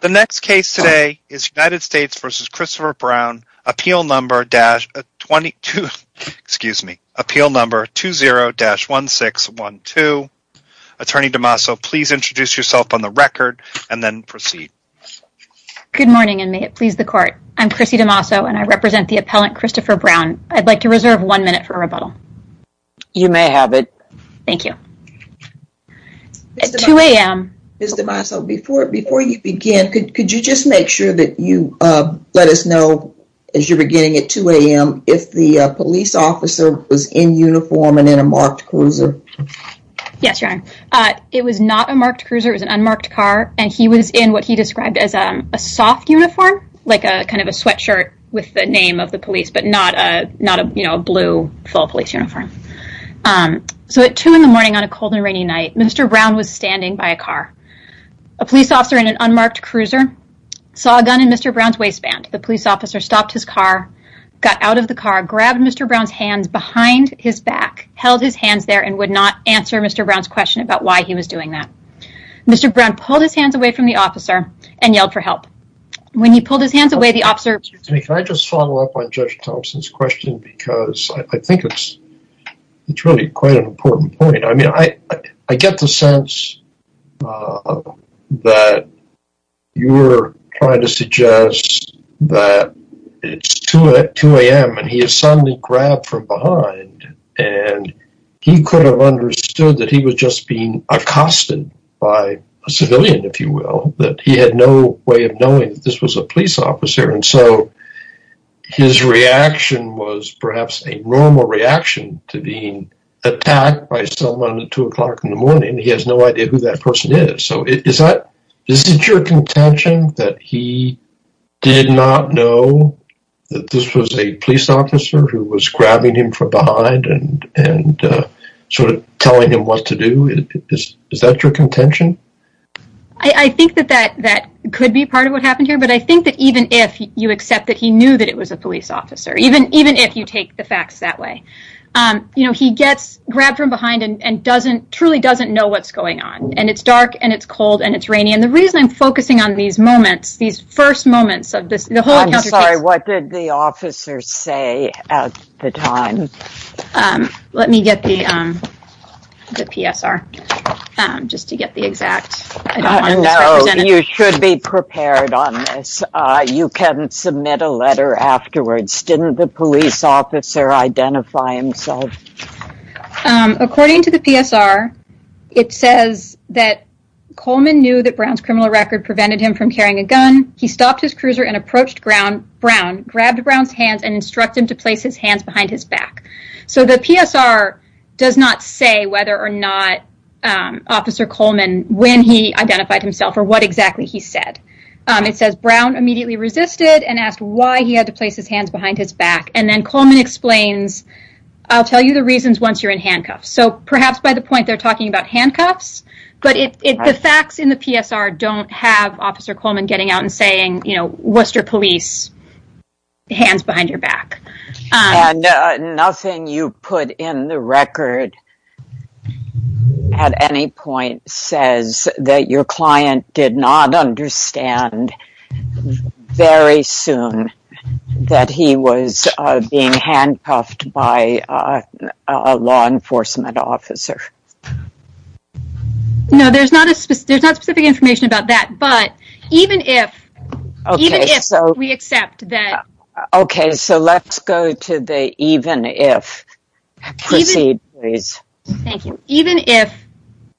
The next case today is United States v. Christopher Brown, appeal number 20-1612. Attorney DeMaso, please introduce yourself on the record and then proceed. Good morning and may it please the court. I'm Chrissy DeMaso and I represent the appellant Christopher Brown. I'd like to reserve one minute for rebuttal. You may have it. Thank you. At 2 a.m. Mr. DeMaso, before you begin, could you just make sure that you let us know as you're beginning at 2 a.m. if the police officer was in uniform and in a marked cruiser? Yes, Your Honor. It was not a marked cruiser. It was an unmarked car and he was in what he described as a soft uniform, like a kind of a sweatshirt with the name of the police, but not a blue full police uniform. At 2 a.m. on a cold and rainy night, Mr. Brown was standing by a car. A police officer in an unmarked cruiser saw a gun in Mr. Brown's waistband. The police officer stopped his car, got out of the car, grabbed Mr. Brown's hands behind his back, held his hands there and would not answer Mr. Brown's question about why he was doing that. Mr. Brown pulled his hands away from the officer and yelled for help. When he pulled his hands away, the officer said, I think it's really quite an important point. I mean, I get the sense that you're trying to suggest that it's 2 a.m. and he is suddenly grabbed from behind and he could have understood that he was just being accosted by a civilian, if you will, that he had no way of knowing that this was a police officer. And so his reaction was perhaps a normal reaction to being attacked by someone at 2 o'clock in the morning. He has no idea who that person is. So is that, is it your contention that he did not know that this was a police officer who was grabbing him from behind and sort of telling him what to do? Is that your contention? I think that that could be part of what happened here. But I think that even if you accept that he knew that it was a police officer, even if you take the facts that way, he gets grabbed from behind and doesn't, truly doesn't know what's going on. And it's dark and it's cold and it's rainy. And the reason I'm focusing on these moments, these first moments of this... I'm sorry, what did the officer say at the time? Let me get the PSR just to get the exact... You should be prepared on this. You can submit a letter afterwards. Didn't the police officer identify himself? According to the PSR, it says that Coleman knew that Brown's criminal record prevented him from carrying a gun. He stopped his cruiser and approached Brown, grabbed Brown's hands and instructed him to place his hands behind his back. So the PSR does not say whether or not Officer Coleman, when he identified himself or what exactly he said. It says Brown immediately resisted and asked why he had to place his hands behind his back. And then Coleman explains, I'll tell you the reasons once you're in handcuffs. So perhaps by the point they're talking about handcuffs, but the facts in the PSR don't have Officer Coleman getting out and saying, what's your police hands behind your back? And nothing you put in the record at any point says that your client did not understand very soon that he was being handcuffed by a law enforcement officer. No, there's not a specific information about that, but even if we accept that... Okay, so let's go to the even if. Proceed, please. Thank you. Even if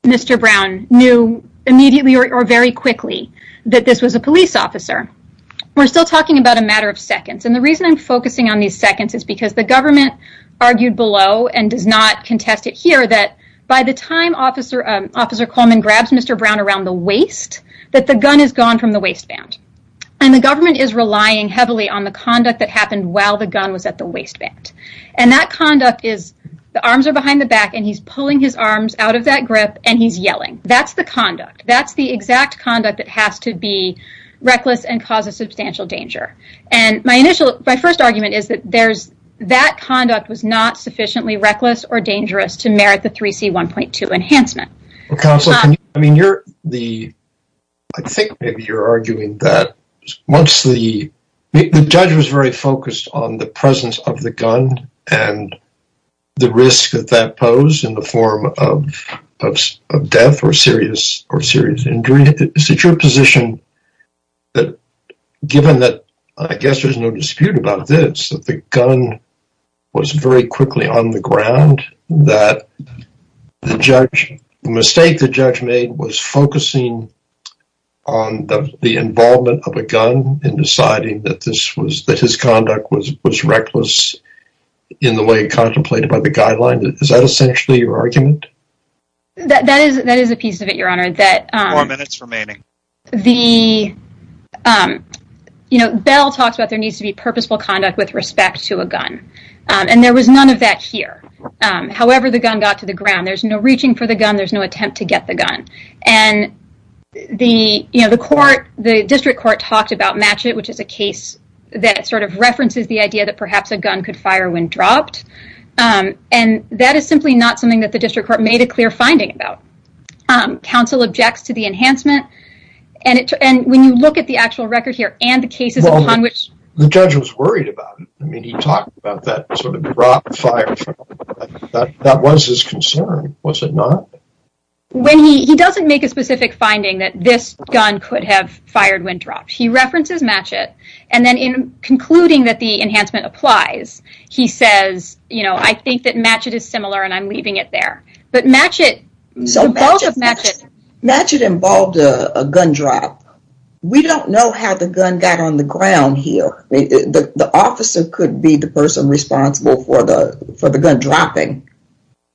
Mr. Brown knew immediately or very quickly that this was a police officer, we're still talking about a matter of seconds. And the reason I'm focusing on these seconds is because the government argued below and does not contest it here that by the time Officer Coleman grabs Mr. Brown around the waist, that the gun has gone from the waistband. And the government is relying heavily on the conduct that happened while the gun was at the waistband. And that conduct is, the arms are behind the back and he's pulling his arms out of that grip and he's yelling. That's the conduct. That's the exact conduct that has to be reckless and cause a substantial danger. And my initial, my first argument is that there's, that conduct was not sufficiently reckless or dangerous to merit the 3C 1.2 enhancement. Counselor, I mean, you're the, I think maybe you're arguing that once the, the judge was very focused on the presence of the gun and the risk that that posed in the form of death or serious injury. Is it your position that given that, I guess there's no dispute about this, that the gun was very quickly on the ground, that the judge, the mistake the judge made was focusing on the involvement of a gun and deciding that this was, that his conduct was, was reckless in the way it contemplated by the guideline? Is that essentially your argument? That, that is, that is a piece of it, your honor, that four minutes remaining. The, you know, Bell talks about there needs to be purposeful conduct with respect to a gun. And there was none of that here. However, the gun got to the ground. There's no reaching for the gun. There's no attempt to get the gun. And the, you know, the court, the district court talked about match it, which is a case that sort of references the idea that perhaps a gun could fire when dropped. And that is simply not something that the district court made a clear finding about. Counsel objects to the enhancement. And it, and when you look at the actual record here and the cases upon which... Well, the judge was worried about it. I mean, he talked about that sort of drop, fire. That was his concern, was it not? When he, he doesn't make a specific finding that this gun could have fired when dropped. He references match it. And then in concluding that the enhancement applies, he says, you know, I think that match it is similar and I'm leaving it there, but match it... So match it involved a gun drop. We don't know how the gun got on the ground here. The officer could be the person responsible for the gun dropping.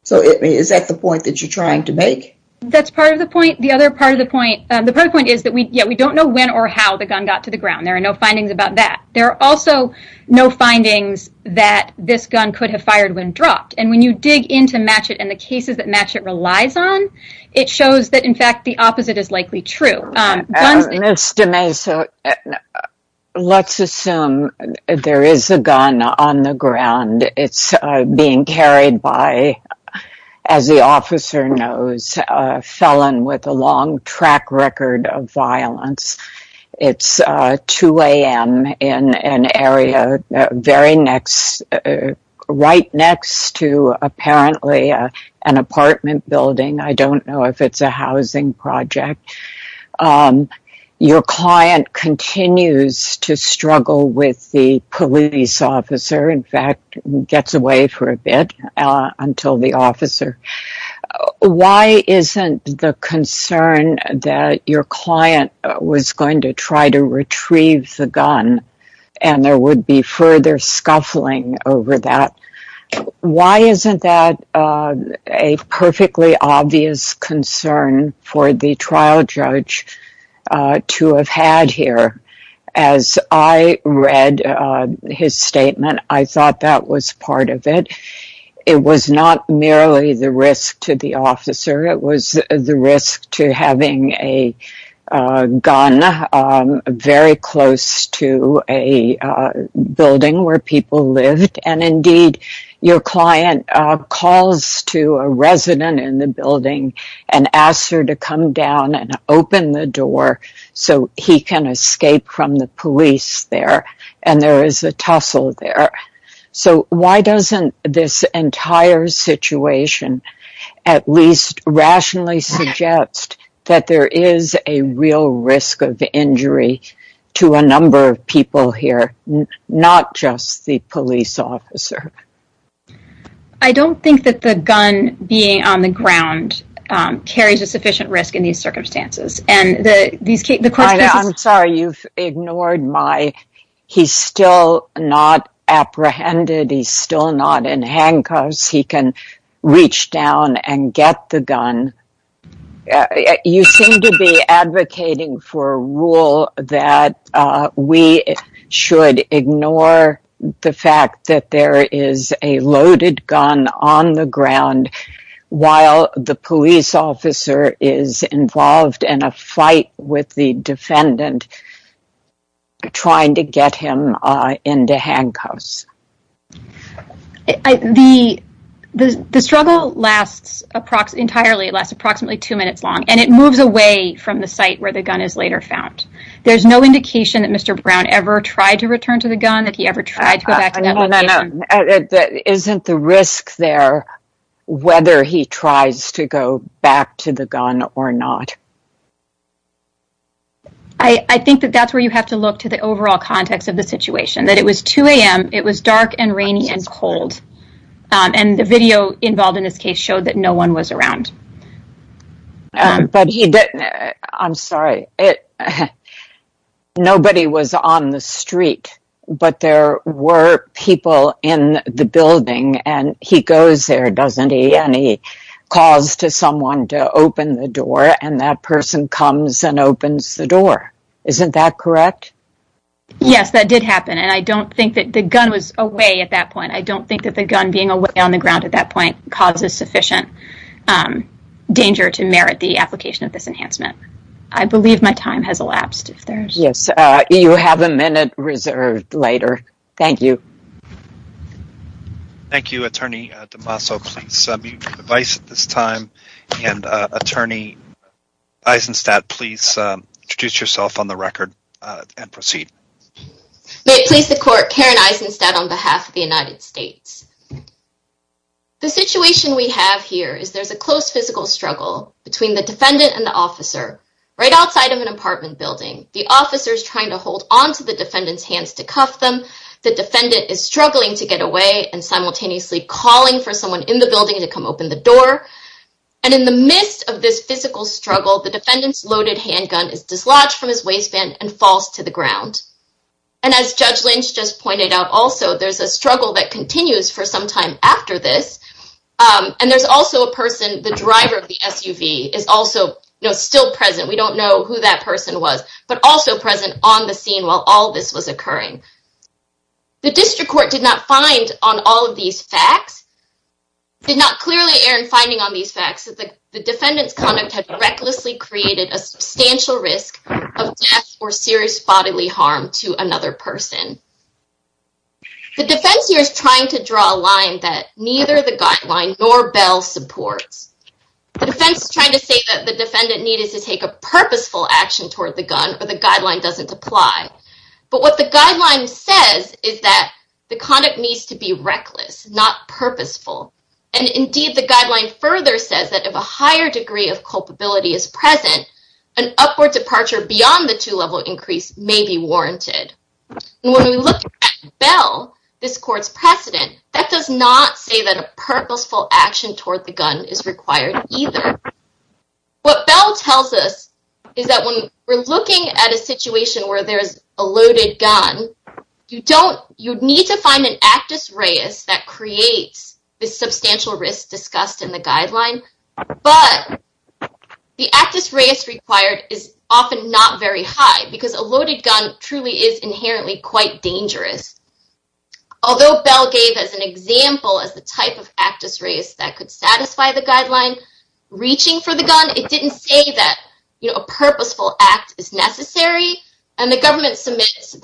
So is that the point that you're trying to make? That's part of the point. The other part of the point, the point is that we, yeah, we don't know when or how the gun got to the ground. There are no findings about that. There are also no findings that this gun could have fired when dropped. And you dig into match it and the cases that match it relies on, it shows that in fact, the opposite is likely true. Ms. DeMesa, let's assume there is a gun on the ground. It's being carried by, as the officer knows, a felon with a long track record of violence. It's 2 a.m. in an area, very next, right next to apparently an apartment building. I don't know if it's a housing project. Your client continues to struggle with the police officer. In fact, gets away for a bit until the officer... Why isn't the concern that your client was going to try to retrieve the gun and there would be further scuffling over that? Why isn't that a perfectly obvious concern for the trial judge to have had here? As I read his statement, I thought that was part of it. It was not merely the risk to the officer. It was the risk to having a gun very close to a building where people lived. And indeed, your client calls to a resident in the building and asks her to come down and open the door so he can escape from the police there. And there is a tussle there. So why doesn't this entire situation at least rationally suggest that there is a real risk of injury to a number of people here, not just the police officer? I don't think that the gun being on the ground carries a sufficient risk in these circumstances. And the... I'm sorry, you've ignored my... He's still not apprehended. He's still not in handcuffs. He can reach down and get the gun. You seem to be advocating for a rule that we should ignore the fact that there is a loaded gun on the ground while the police officer is involved in a fight with the defendant trying to get him into handcuffs. The struggle lasts approximately... Entirely, it lasts approximately two minutes long, and it moves away from the site where the gun is later found. There's no indication that Mr. Brown ever tried to return to the gun, that he ever tried to go back to that location. That isn't the risk there, whether he tries to go back to the gun or not. I think that that's where you have to look to the overall context of the situation, that it was 2 a.m., it was dark and rainy and cold. And the video involved in this case showed that no one was around. But he didn't... I'm sorry. It... Nobody was on the street, but there were people in the building, and he goes there, doesn't he? And he calls to someone to open the door, and that person comes and opens the door. Isn't that correct? Yes, that did happen. And I don't think that the gun was away at that point. I don't think that the gun being away on the ground at that point causes sufficient danger to merit the application of this enhancement. I believe my time has elapsed, if there's... Yes, you have a minute reserved later. Thank you. Thank you, Attorney DeMaso. Please mute your device at this time. And Attorney Eisenstadt, please introduce yourself on the record and proceed. May it please the court, Karen Eisenstadt on behalf of the United States. The situation we have here is there's a close physical struggle between the defendant and officer right outside of an apartment building. The officer is trying to hold onto the defendant's hands to cuff them. The defendant is struggling to get away and simultaneously calling for someone in the building to come open the door. And in the midst of this physical struggle, the defendant's loaded handgun is dislodged from his waistband and falls to the ground. And as Judge Lynch just pointed out, also, there's a struggle that continues for some time after this. And there's also still present. We don't know who that person was, but also present on the scene while all this was occurring. The district court did not find on all of these facts, did not clearly err in finding on these facts that the defendant's conduct had recklessly created a substantial risk of death or serious bodily harm to another person. The defense here is trying to draw a line that the defense is trying to say that the defendant needed to take a purposeful action toward the gun or the guideline doesn't apply. But what the guideline says is that the conduct needs to be reckless, not purposeful. And indeed, the guideline further says that if a higher degree of culpability is present, an upward departure beyond the two-level increase may be warranted. When we look at Bell, this court's precedent, that does not say that a purposeful action toward the gun is required either. What Bell tells us is that when we're looking at a situation where there's a loaded gun, you need to find an actus reus that creates the substantial risk discussed in the guideline. But the actus reus required is often not very high because a loaded gun truly is inherently quite dangerous. Although Bell gave as an example as the type of actus reus that could satisfy the reaching for the gun, it didn't say that a purposeful act is necessary. And the government submits,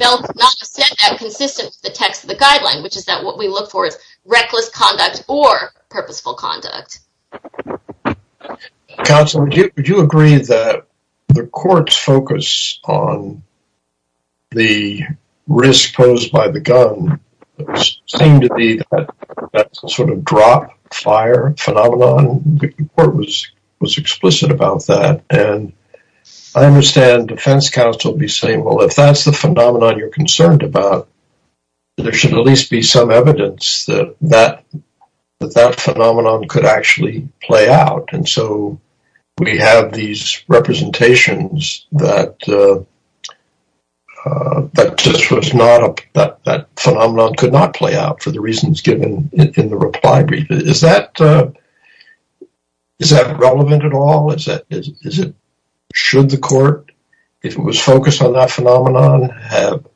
Bell does not have said that consistent with the text of the guideline, which is that what we look for is reckless conduct or purposeful conduct. Counsel, would you agree that the court's on the risk posed by the gun seemed to be that sort of drop, fire phenomenon? The court was explicit about that. And I understand defense counsel be saying, well, if that's the phenomenon you're concerned about, there should at least be some evidence that that phenomenon could actually play out. And so we have these representations that just was not, that phenomenon could not play out for the reasons given in the reply brief. Is that relevant at all? Should the court, if it was focused on that phenomenon, have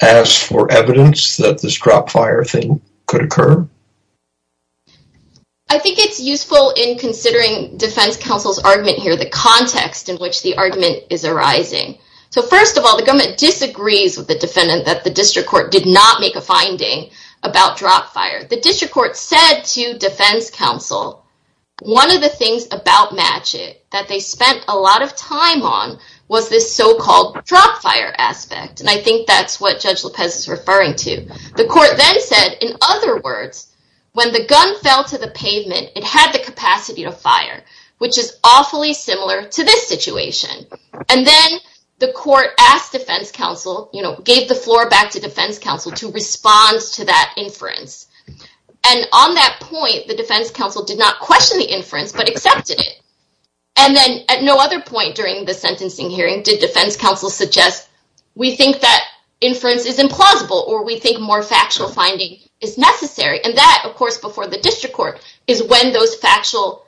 asked for evidence that this drop, fire thing could occur? I think it's useful in considering defense counsel's argument here, the context in which the argument is arising. So first of all, the government disagrees with the defendant that the district court did not make a finding about drop, fire. The district court said to defense counsel, one of the things about Matchett that they spent a lot of time on was this so-called drop, fire aspect. And I think that's what judge Lopez is referring to. The court then said, in other words, when the gun fell to the pavement, it had the capacity to fire, which is awfully similar to this situation. And then the court asked defense counsel, gave the floor back to defense counsel to respond to that inference. And on that point, the defense counsel did not question the inference, but accepted it. And then at no other point during the sentencing hearing did defense counsel suggest, we think that inference is implausible, or we think more factual finding is necessary. And that, of course, before the district court is when those factual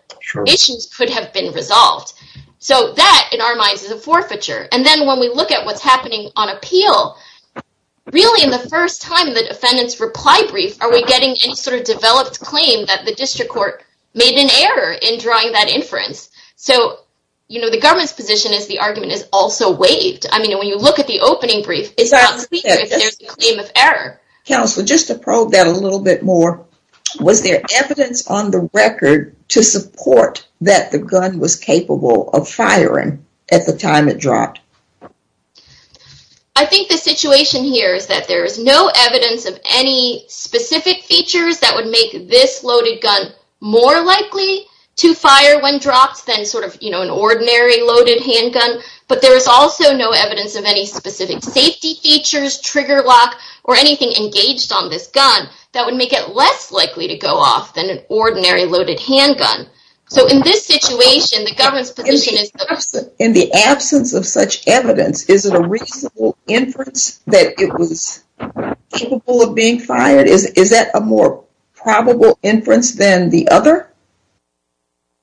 issues could have been resolved. So that, in our minds, is a forfeiture. And then when we look at what's happening on appeal, really in the first time the defendant's reply brief, are we getting any sort of developed claim that the district court made an error in drawing that inference? So the government's position is the argument is also I mean, when you look at the opening brief, it's not clear if there's a claim of error. Counsel, just to probe that a little bit more, was there evidence on the record to support that the gun was capable of firing at the time it dropped? I think the situation here is that there is no evidence of any specific features that would make this loaded gun more likely to fire when dropped than sort of an ordinary loaded handgun. But there is also no evidence of any specific safety features, trigger lock, or anything engaged on this gun that would make it less likely to go off than an ordinary loaded handgun. So in this situation, the government's position is... In the absence of such evidence, is it a reasonable inference that it was capable of being fired? Is that a more probable inference than the other?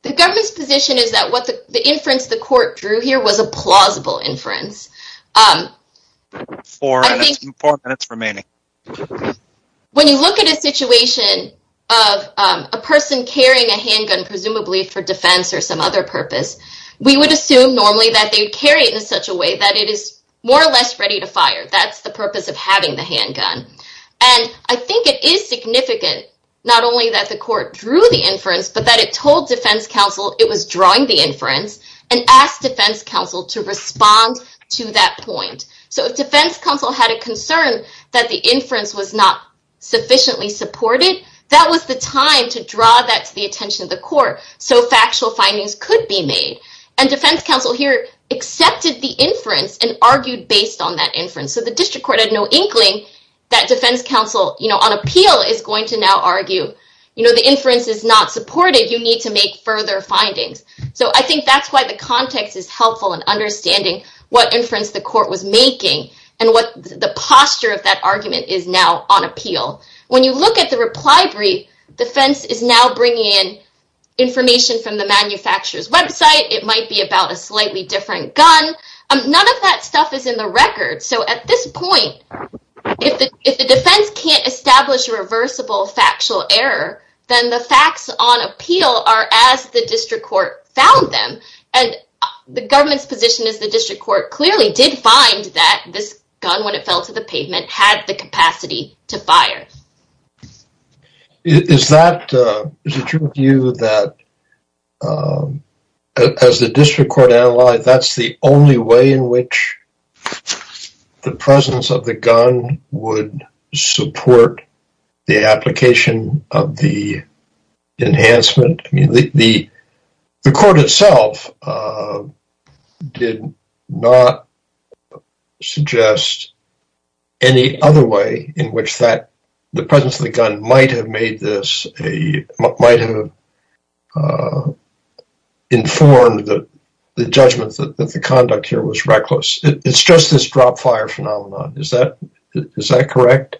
The government's position is that what the inference the court drew here was a plausible inference. Four minutes remaining. When you look at a situation of a person carrying a handgun, presumably for defense or some other purpose, we would assume normally that they'd carry it in such a way that it is more or less ready to fire. That's the purpose of having the handgun. And I think it is significant, not only that the court drew the inference, but that it told defense counsel it was drawing the inference and asked defense counsel to respond to that point. So if defense counsel had a concern that the inference was not sufficiently supported, that was the time to draw that to the attention of the court so factual findings could be made. And defense counsel here accepted the inference and argued based on that inference. So the district court had no inkling that defense argued the inference is not supported, you need to make further findings. So I think that's why the context is helpful in understanding what inference the court was making and what the posture of that argument is now on appeal. When you look at the reply brief, defense is now bringing in information from the manufacturer's website. It might be about a slightly different gun. None of that stuff is in the record. So at this point, if the defense can't establish a reversible factual error, then the facts on appeal are as the district court found them. And the government's position is the district court clearly did find that this gun, when it fell to the pavement, had the capacity to fire. Is that, is it true of you that as the district court analyzed, that's the only way in which the presence of the gun would support the application of the enhancement? I mean, the court itself did not suggest any other way in which that, the presence of the gun might have made this, might have informed the judgment that the conduct here was reckless. It's just this drop fire phenomenon. Is that correct?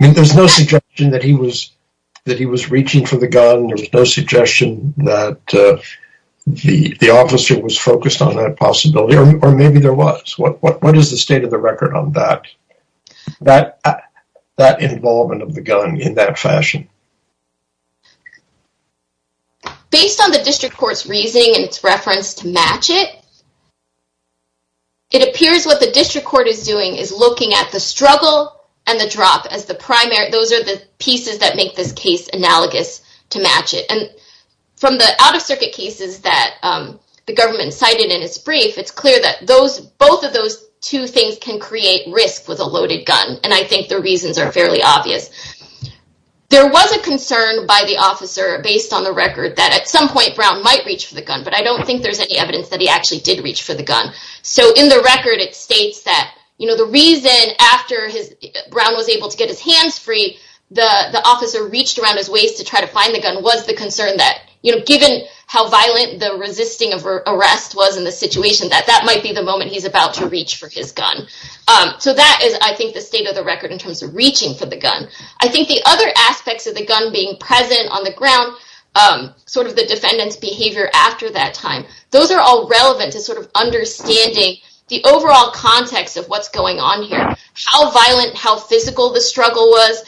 I mean, there's no suggestion that he was reaching for the gun. There's no suggestion that the officer was focused on that possibility, or maybe there was. What is the state of the record on that? That involvement of the gun in that fashion? Based on the district court's reasoning and its reference to match it, it appears what the district court is doing is looking at the struggle and the drop as the primary. Those are the pieces that make this case analogous to match it. And from the out-of-circuit cases that the government cited in its brief, it's clear that those, both of those two things can create risk with a loaded gun. And I think the reasons are fairly obvious. There was a concern by the officer, based on the record, that at some point Brown might reach for the gun, but I don't think there's any evidence that he actually did reach for the gun. So in the record, it states that the reason after Brown was able to get his hands free, the officer reached around his waist to try to find the gun was the concern that given how violent the resisting of arrest was in the situation, that that might be the moment he's about to reach for his gun. So that is, I think, the state of the record in terms of reaching for the gun. I think the other aspects of the gun being present on the ground, sort of the defendant's behavior after that time, those are all relevant to sort of understanding the overall context of what's going on here, how violent, how physical the struggle was.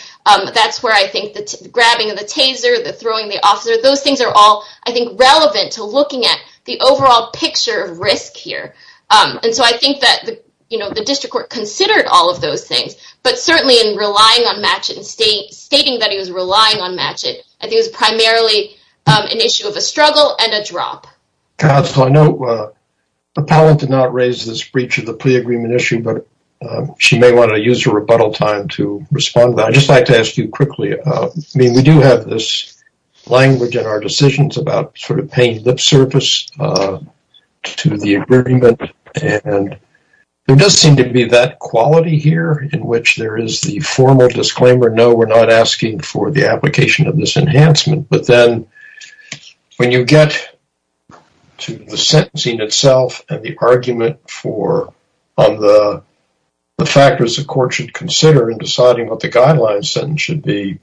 That's where I think the grabbing of the taser, the throwing the officer, those things are all, I think, relevant to looking at the overall picture of risk here. And so I think that, you know, the district court considered all of those things, but certainly in relying on Matchett and stating that he was relying on Matchett, I think it was primarily an issue of a struggle and a drop. Counsel, I know Appellant did not raise this breach of the plea agreement issue, but she may want to use her rebuttal time to respond. I'd just like to ask you quickly, I mean, we do have this surface to the agreement and there does seem to be that quality here in which there is the formal disclaimer, no, we're not asking for the application of this enhancement, but then when you get to the sentencing itself and the argument for the factors the court should consider in deciding what the guidelines sentence should be,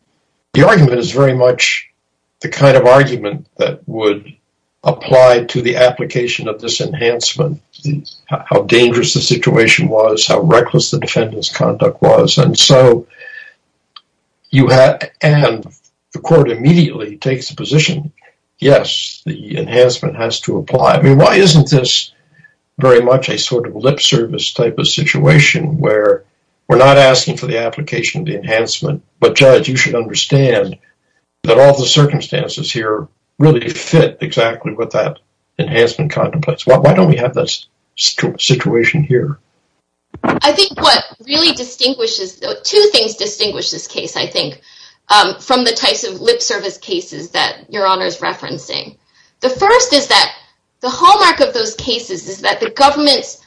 the argument is very much the kind of argument that would apply to the application of this enhancement, how dangerous the situation was, how reckless the defendant's conduct was. And so you have, and the court immediately takes the position, yes, the enhancement has to apply. I mean, why isn't this very much a sort of lip service type of situation where we're not asking for the application of the enhancement, but Judge, you should understand that all the circumstances here really fit exactly with that enhancement contemplates. Why don't we have this situation here? I think what really distinguishes, two things distinguish this case, I think, from the types of lip service cases that Your Honor is referencing. The first is that the hallmark of those cases is that the government's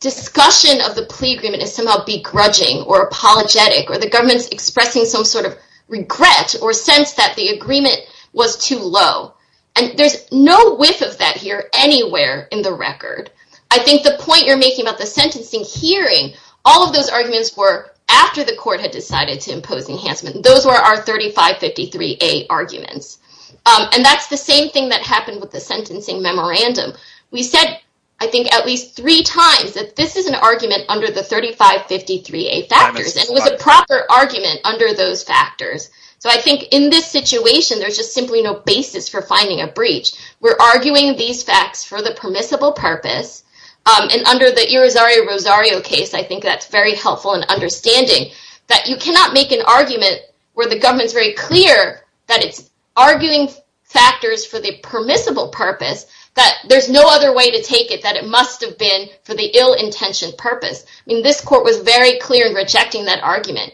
discussion of the plea agreement is somehow begrudging or apologetic, or the government's expressing some sort of regret or sense that the agreement was too low. And there's no whiff of that here anywhere in the record. I think the point you're making about the sentencing hearing, all of those arguments were after the court had decided to impose enhancement. Those were our 3553A arguments. And that's the same thing that happened with the sentencing memorandum. We said, I think, at least three times that this is an 3553A factors. And it was a proper argument under those factors. So I think in this situation, there's just simply no basis for finding a breach. We're arguing these facts for the permissible purpose. And under the Irizarry Rosario case, I think that's very helpful in understanding that you cannot make an argument where the government's very clear that it's arguing factors for the permissible purpose, that there's no other way to take it that it must have been for the ill-intentioned purpose. I mean, this court was very clear in rejecting that argument.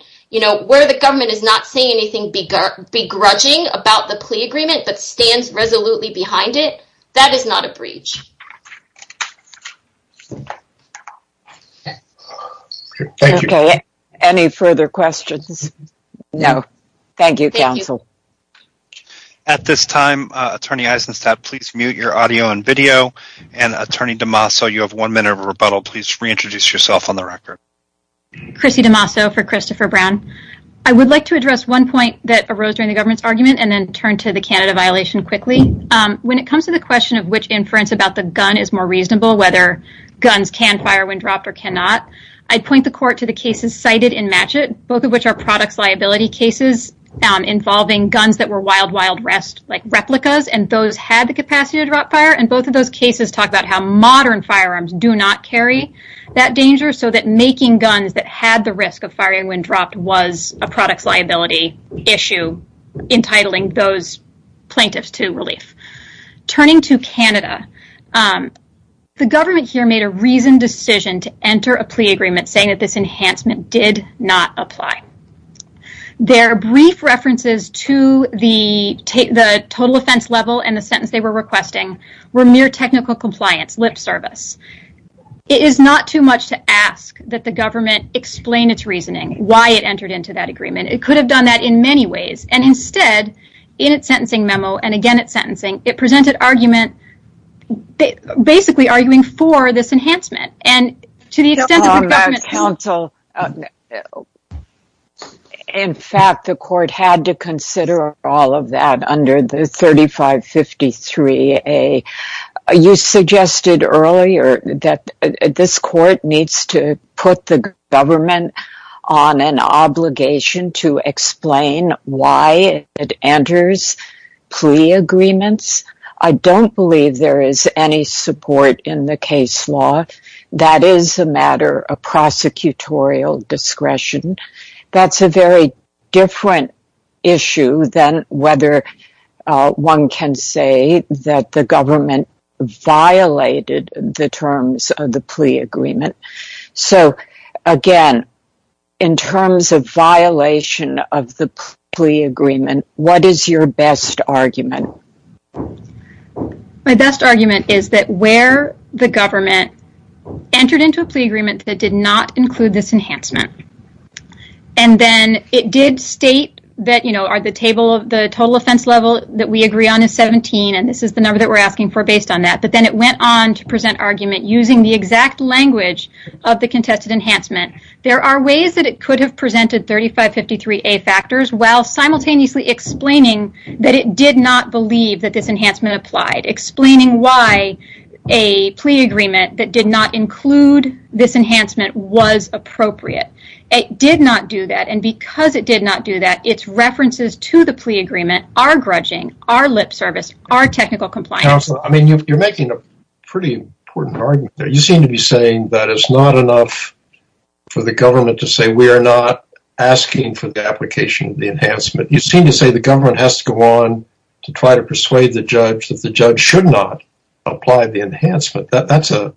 Where the government is not saying anything begrudging about the plea agreement that stands resolutely behind it, that is not a breach. Okay, any further questions? No. Thank you, counsel. At this time, Attorney Eisenstadt, please mute your audio and video. And Attorney DeMaso, you have one minute of a rebuttal. Please reintroduce yourself on the record. Chrissy DeMaso for Christopher Brown. I would like to address one point that arose during the government's argument and then turn to the Canada violation quickly. When it comes to the question of which inference about the gun is more reasonable, whether guns can fire when dropped or cannot, I'd point the court to the cases cited in Matchett, both of which are products liability cases involving guns that were wild, wild rest, replicas, and those had the capacity to drop fire. And both of those cases talk about how modern firearms do not carry that danger. So that making guns that had the risk of firing when dropped was a products liability issue, entitling those plaintiffs to relief. Turning to Canada, the government here made a reasoned decision to enter a plea agreement saying that this enhancement did not apply. Their brief references to the total offense level and the sentence they were requesting were mere technical compliance, lip service. It is not too much to ask that the government explain its reasoning, why it entered into that agreement. It could have done that in many ways. And instead, in its sentencing memo, and again at sentencing, it presented argument, basically arguing for this enhancement. And to the extent that the government... In fact, the court had to consider all of that under the 3553A. You suggested earlier that this court needs to put the government on an obligation to explain why it enters plea agreements. I don't believe there is any support in the case law. That is a matter of prosecutorial discretion. That's a very different issue than whether one can say that the government violated the terms of the plea agreement. So again, in terms of violation of the plea agreement, what is your best argument? My best argument is that where the government entered into a plea agreement that did not include this enhancement, and then it did state that, you know, the table of the total offense level that we agree on is 17, and this is the number that we're asking for based on that, but then it went on to present argument using the exact language of the contested enhancement. There are ways that it could have presented 3553A factors while simultaneously explaining that it did not believe that this enhancement applied, explaining why a plea agreement that did not include this enhancement was appropriate. It did not do that, and because it did not do that, its references to the plea agreement are grudging, are lip service, are technical compliance. Counselor, I mean, you're making a pretty important argument there. You seem to be saying that it's not enough for the government to say we are not asking for the application of the enhancement. You seem to say the government has to go on to try to persuade the judge that the judge should not apply the enhancement. That's a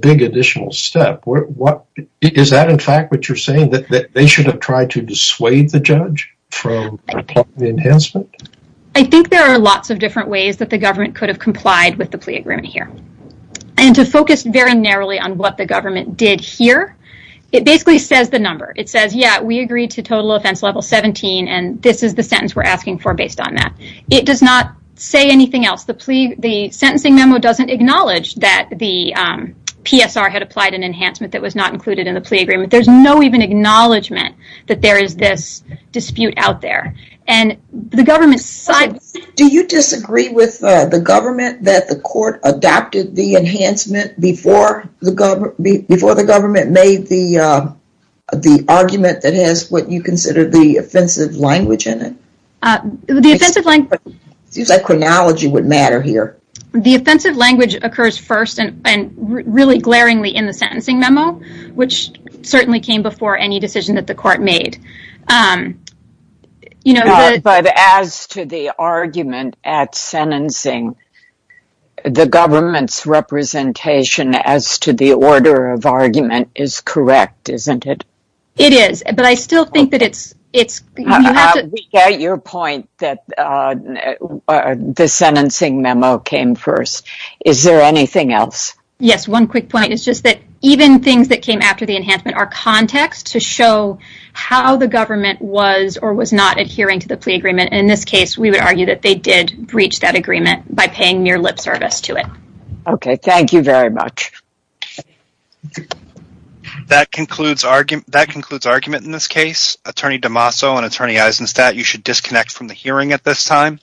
big additional step. Is that in fact what you're saying, that they should have tried to dissuade the judge from the enhancement? I think there are lots of different ways that the government could have complied with the plea agreement here, and to focus very narrowly on what the government did here. It basically says the number. It says, yeah, we agree to total offense level 17, and this is the sentence we're asking for based on that. It does not say anything else. The sentencing memo doesn't acknowledge that the PSR had applied an enhancement that was not included in the plea agreement. There's no even acknowledgement that there is this dispute out there, and the government's side... Do you disagree with the government that the court adopted the enhancement before the government made the argument that has what you consider the offensive language in it? It seems like chronology would matter here. The offensive language occurs first and really glaringly in the sentencing memo, which certainly came before any decision that the court made. But as to the argument at sentencing, the government's representation as to the order of argument is correct, isn't it? It is, but I still think that it's... We get your point that the sentencing memo came first. Is there anything else? Yes, one quick point. It's just that even things that came after the enhancement are context to show how the government was or was not adhering to the plea agreement. In this case, we would argue that they did breach that agreement by paying mere lip service to it. Okay, thank you very much. That concludes argument in this case. Attorney D'Amaso and Attorney Eisenstat, you should disconnect from the hearing at this time.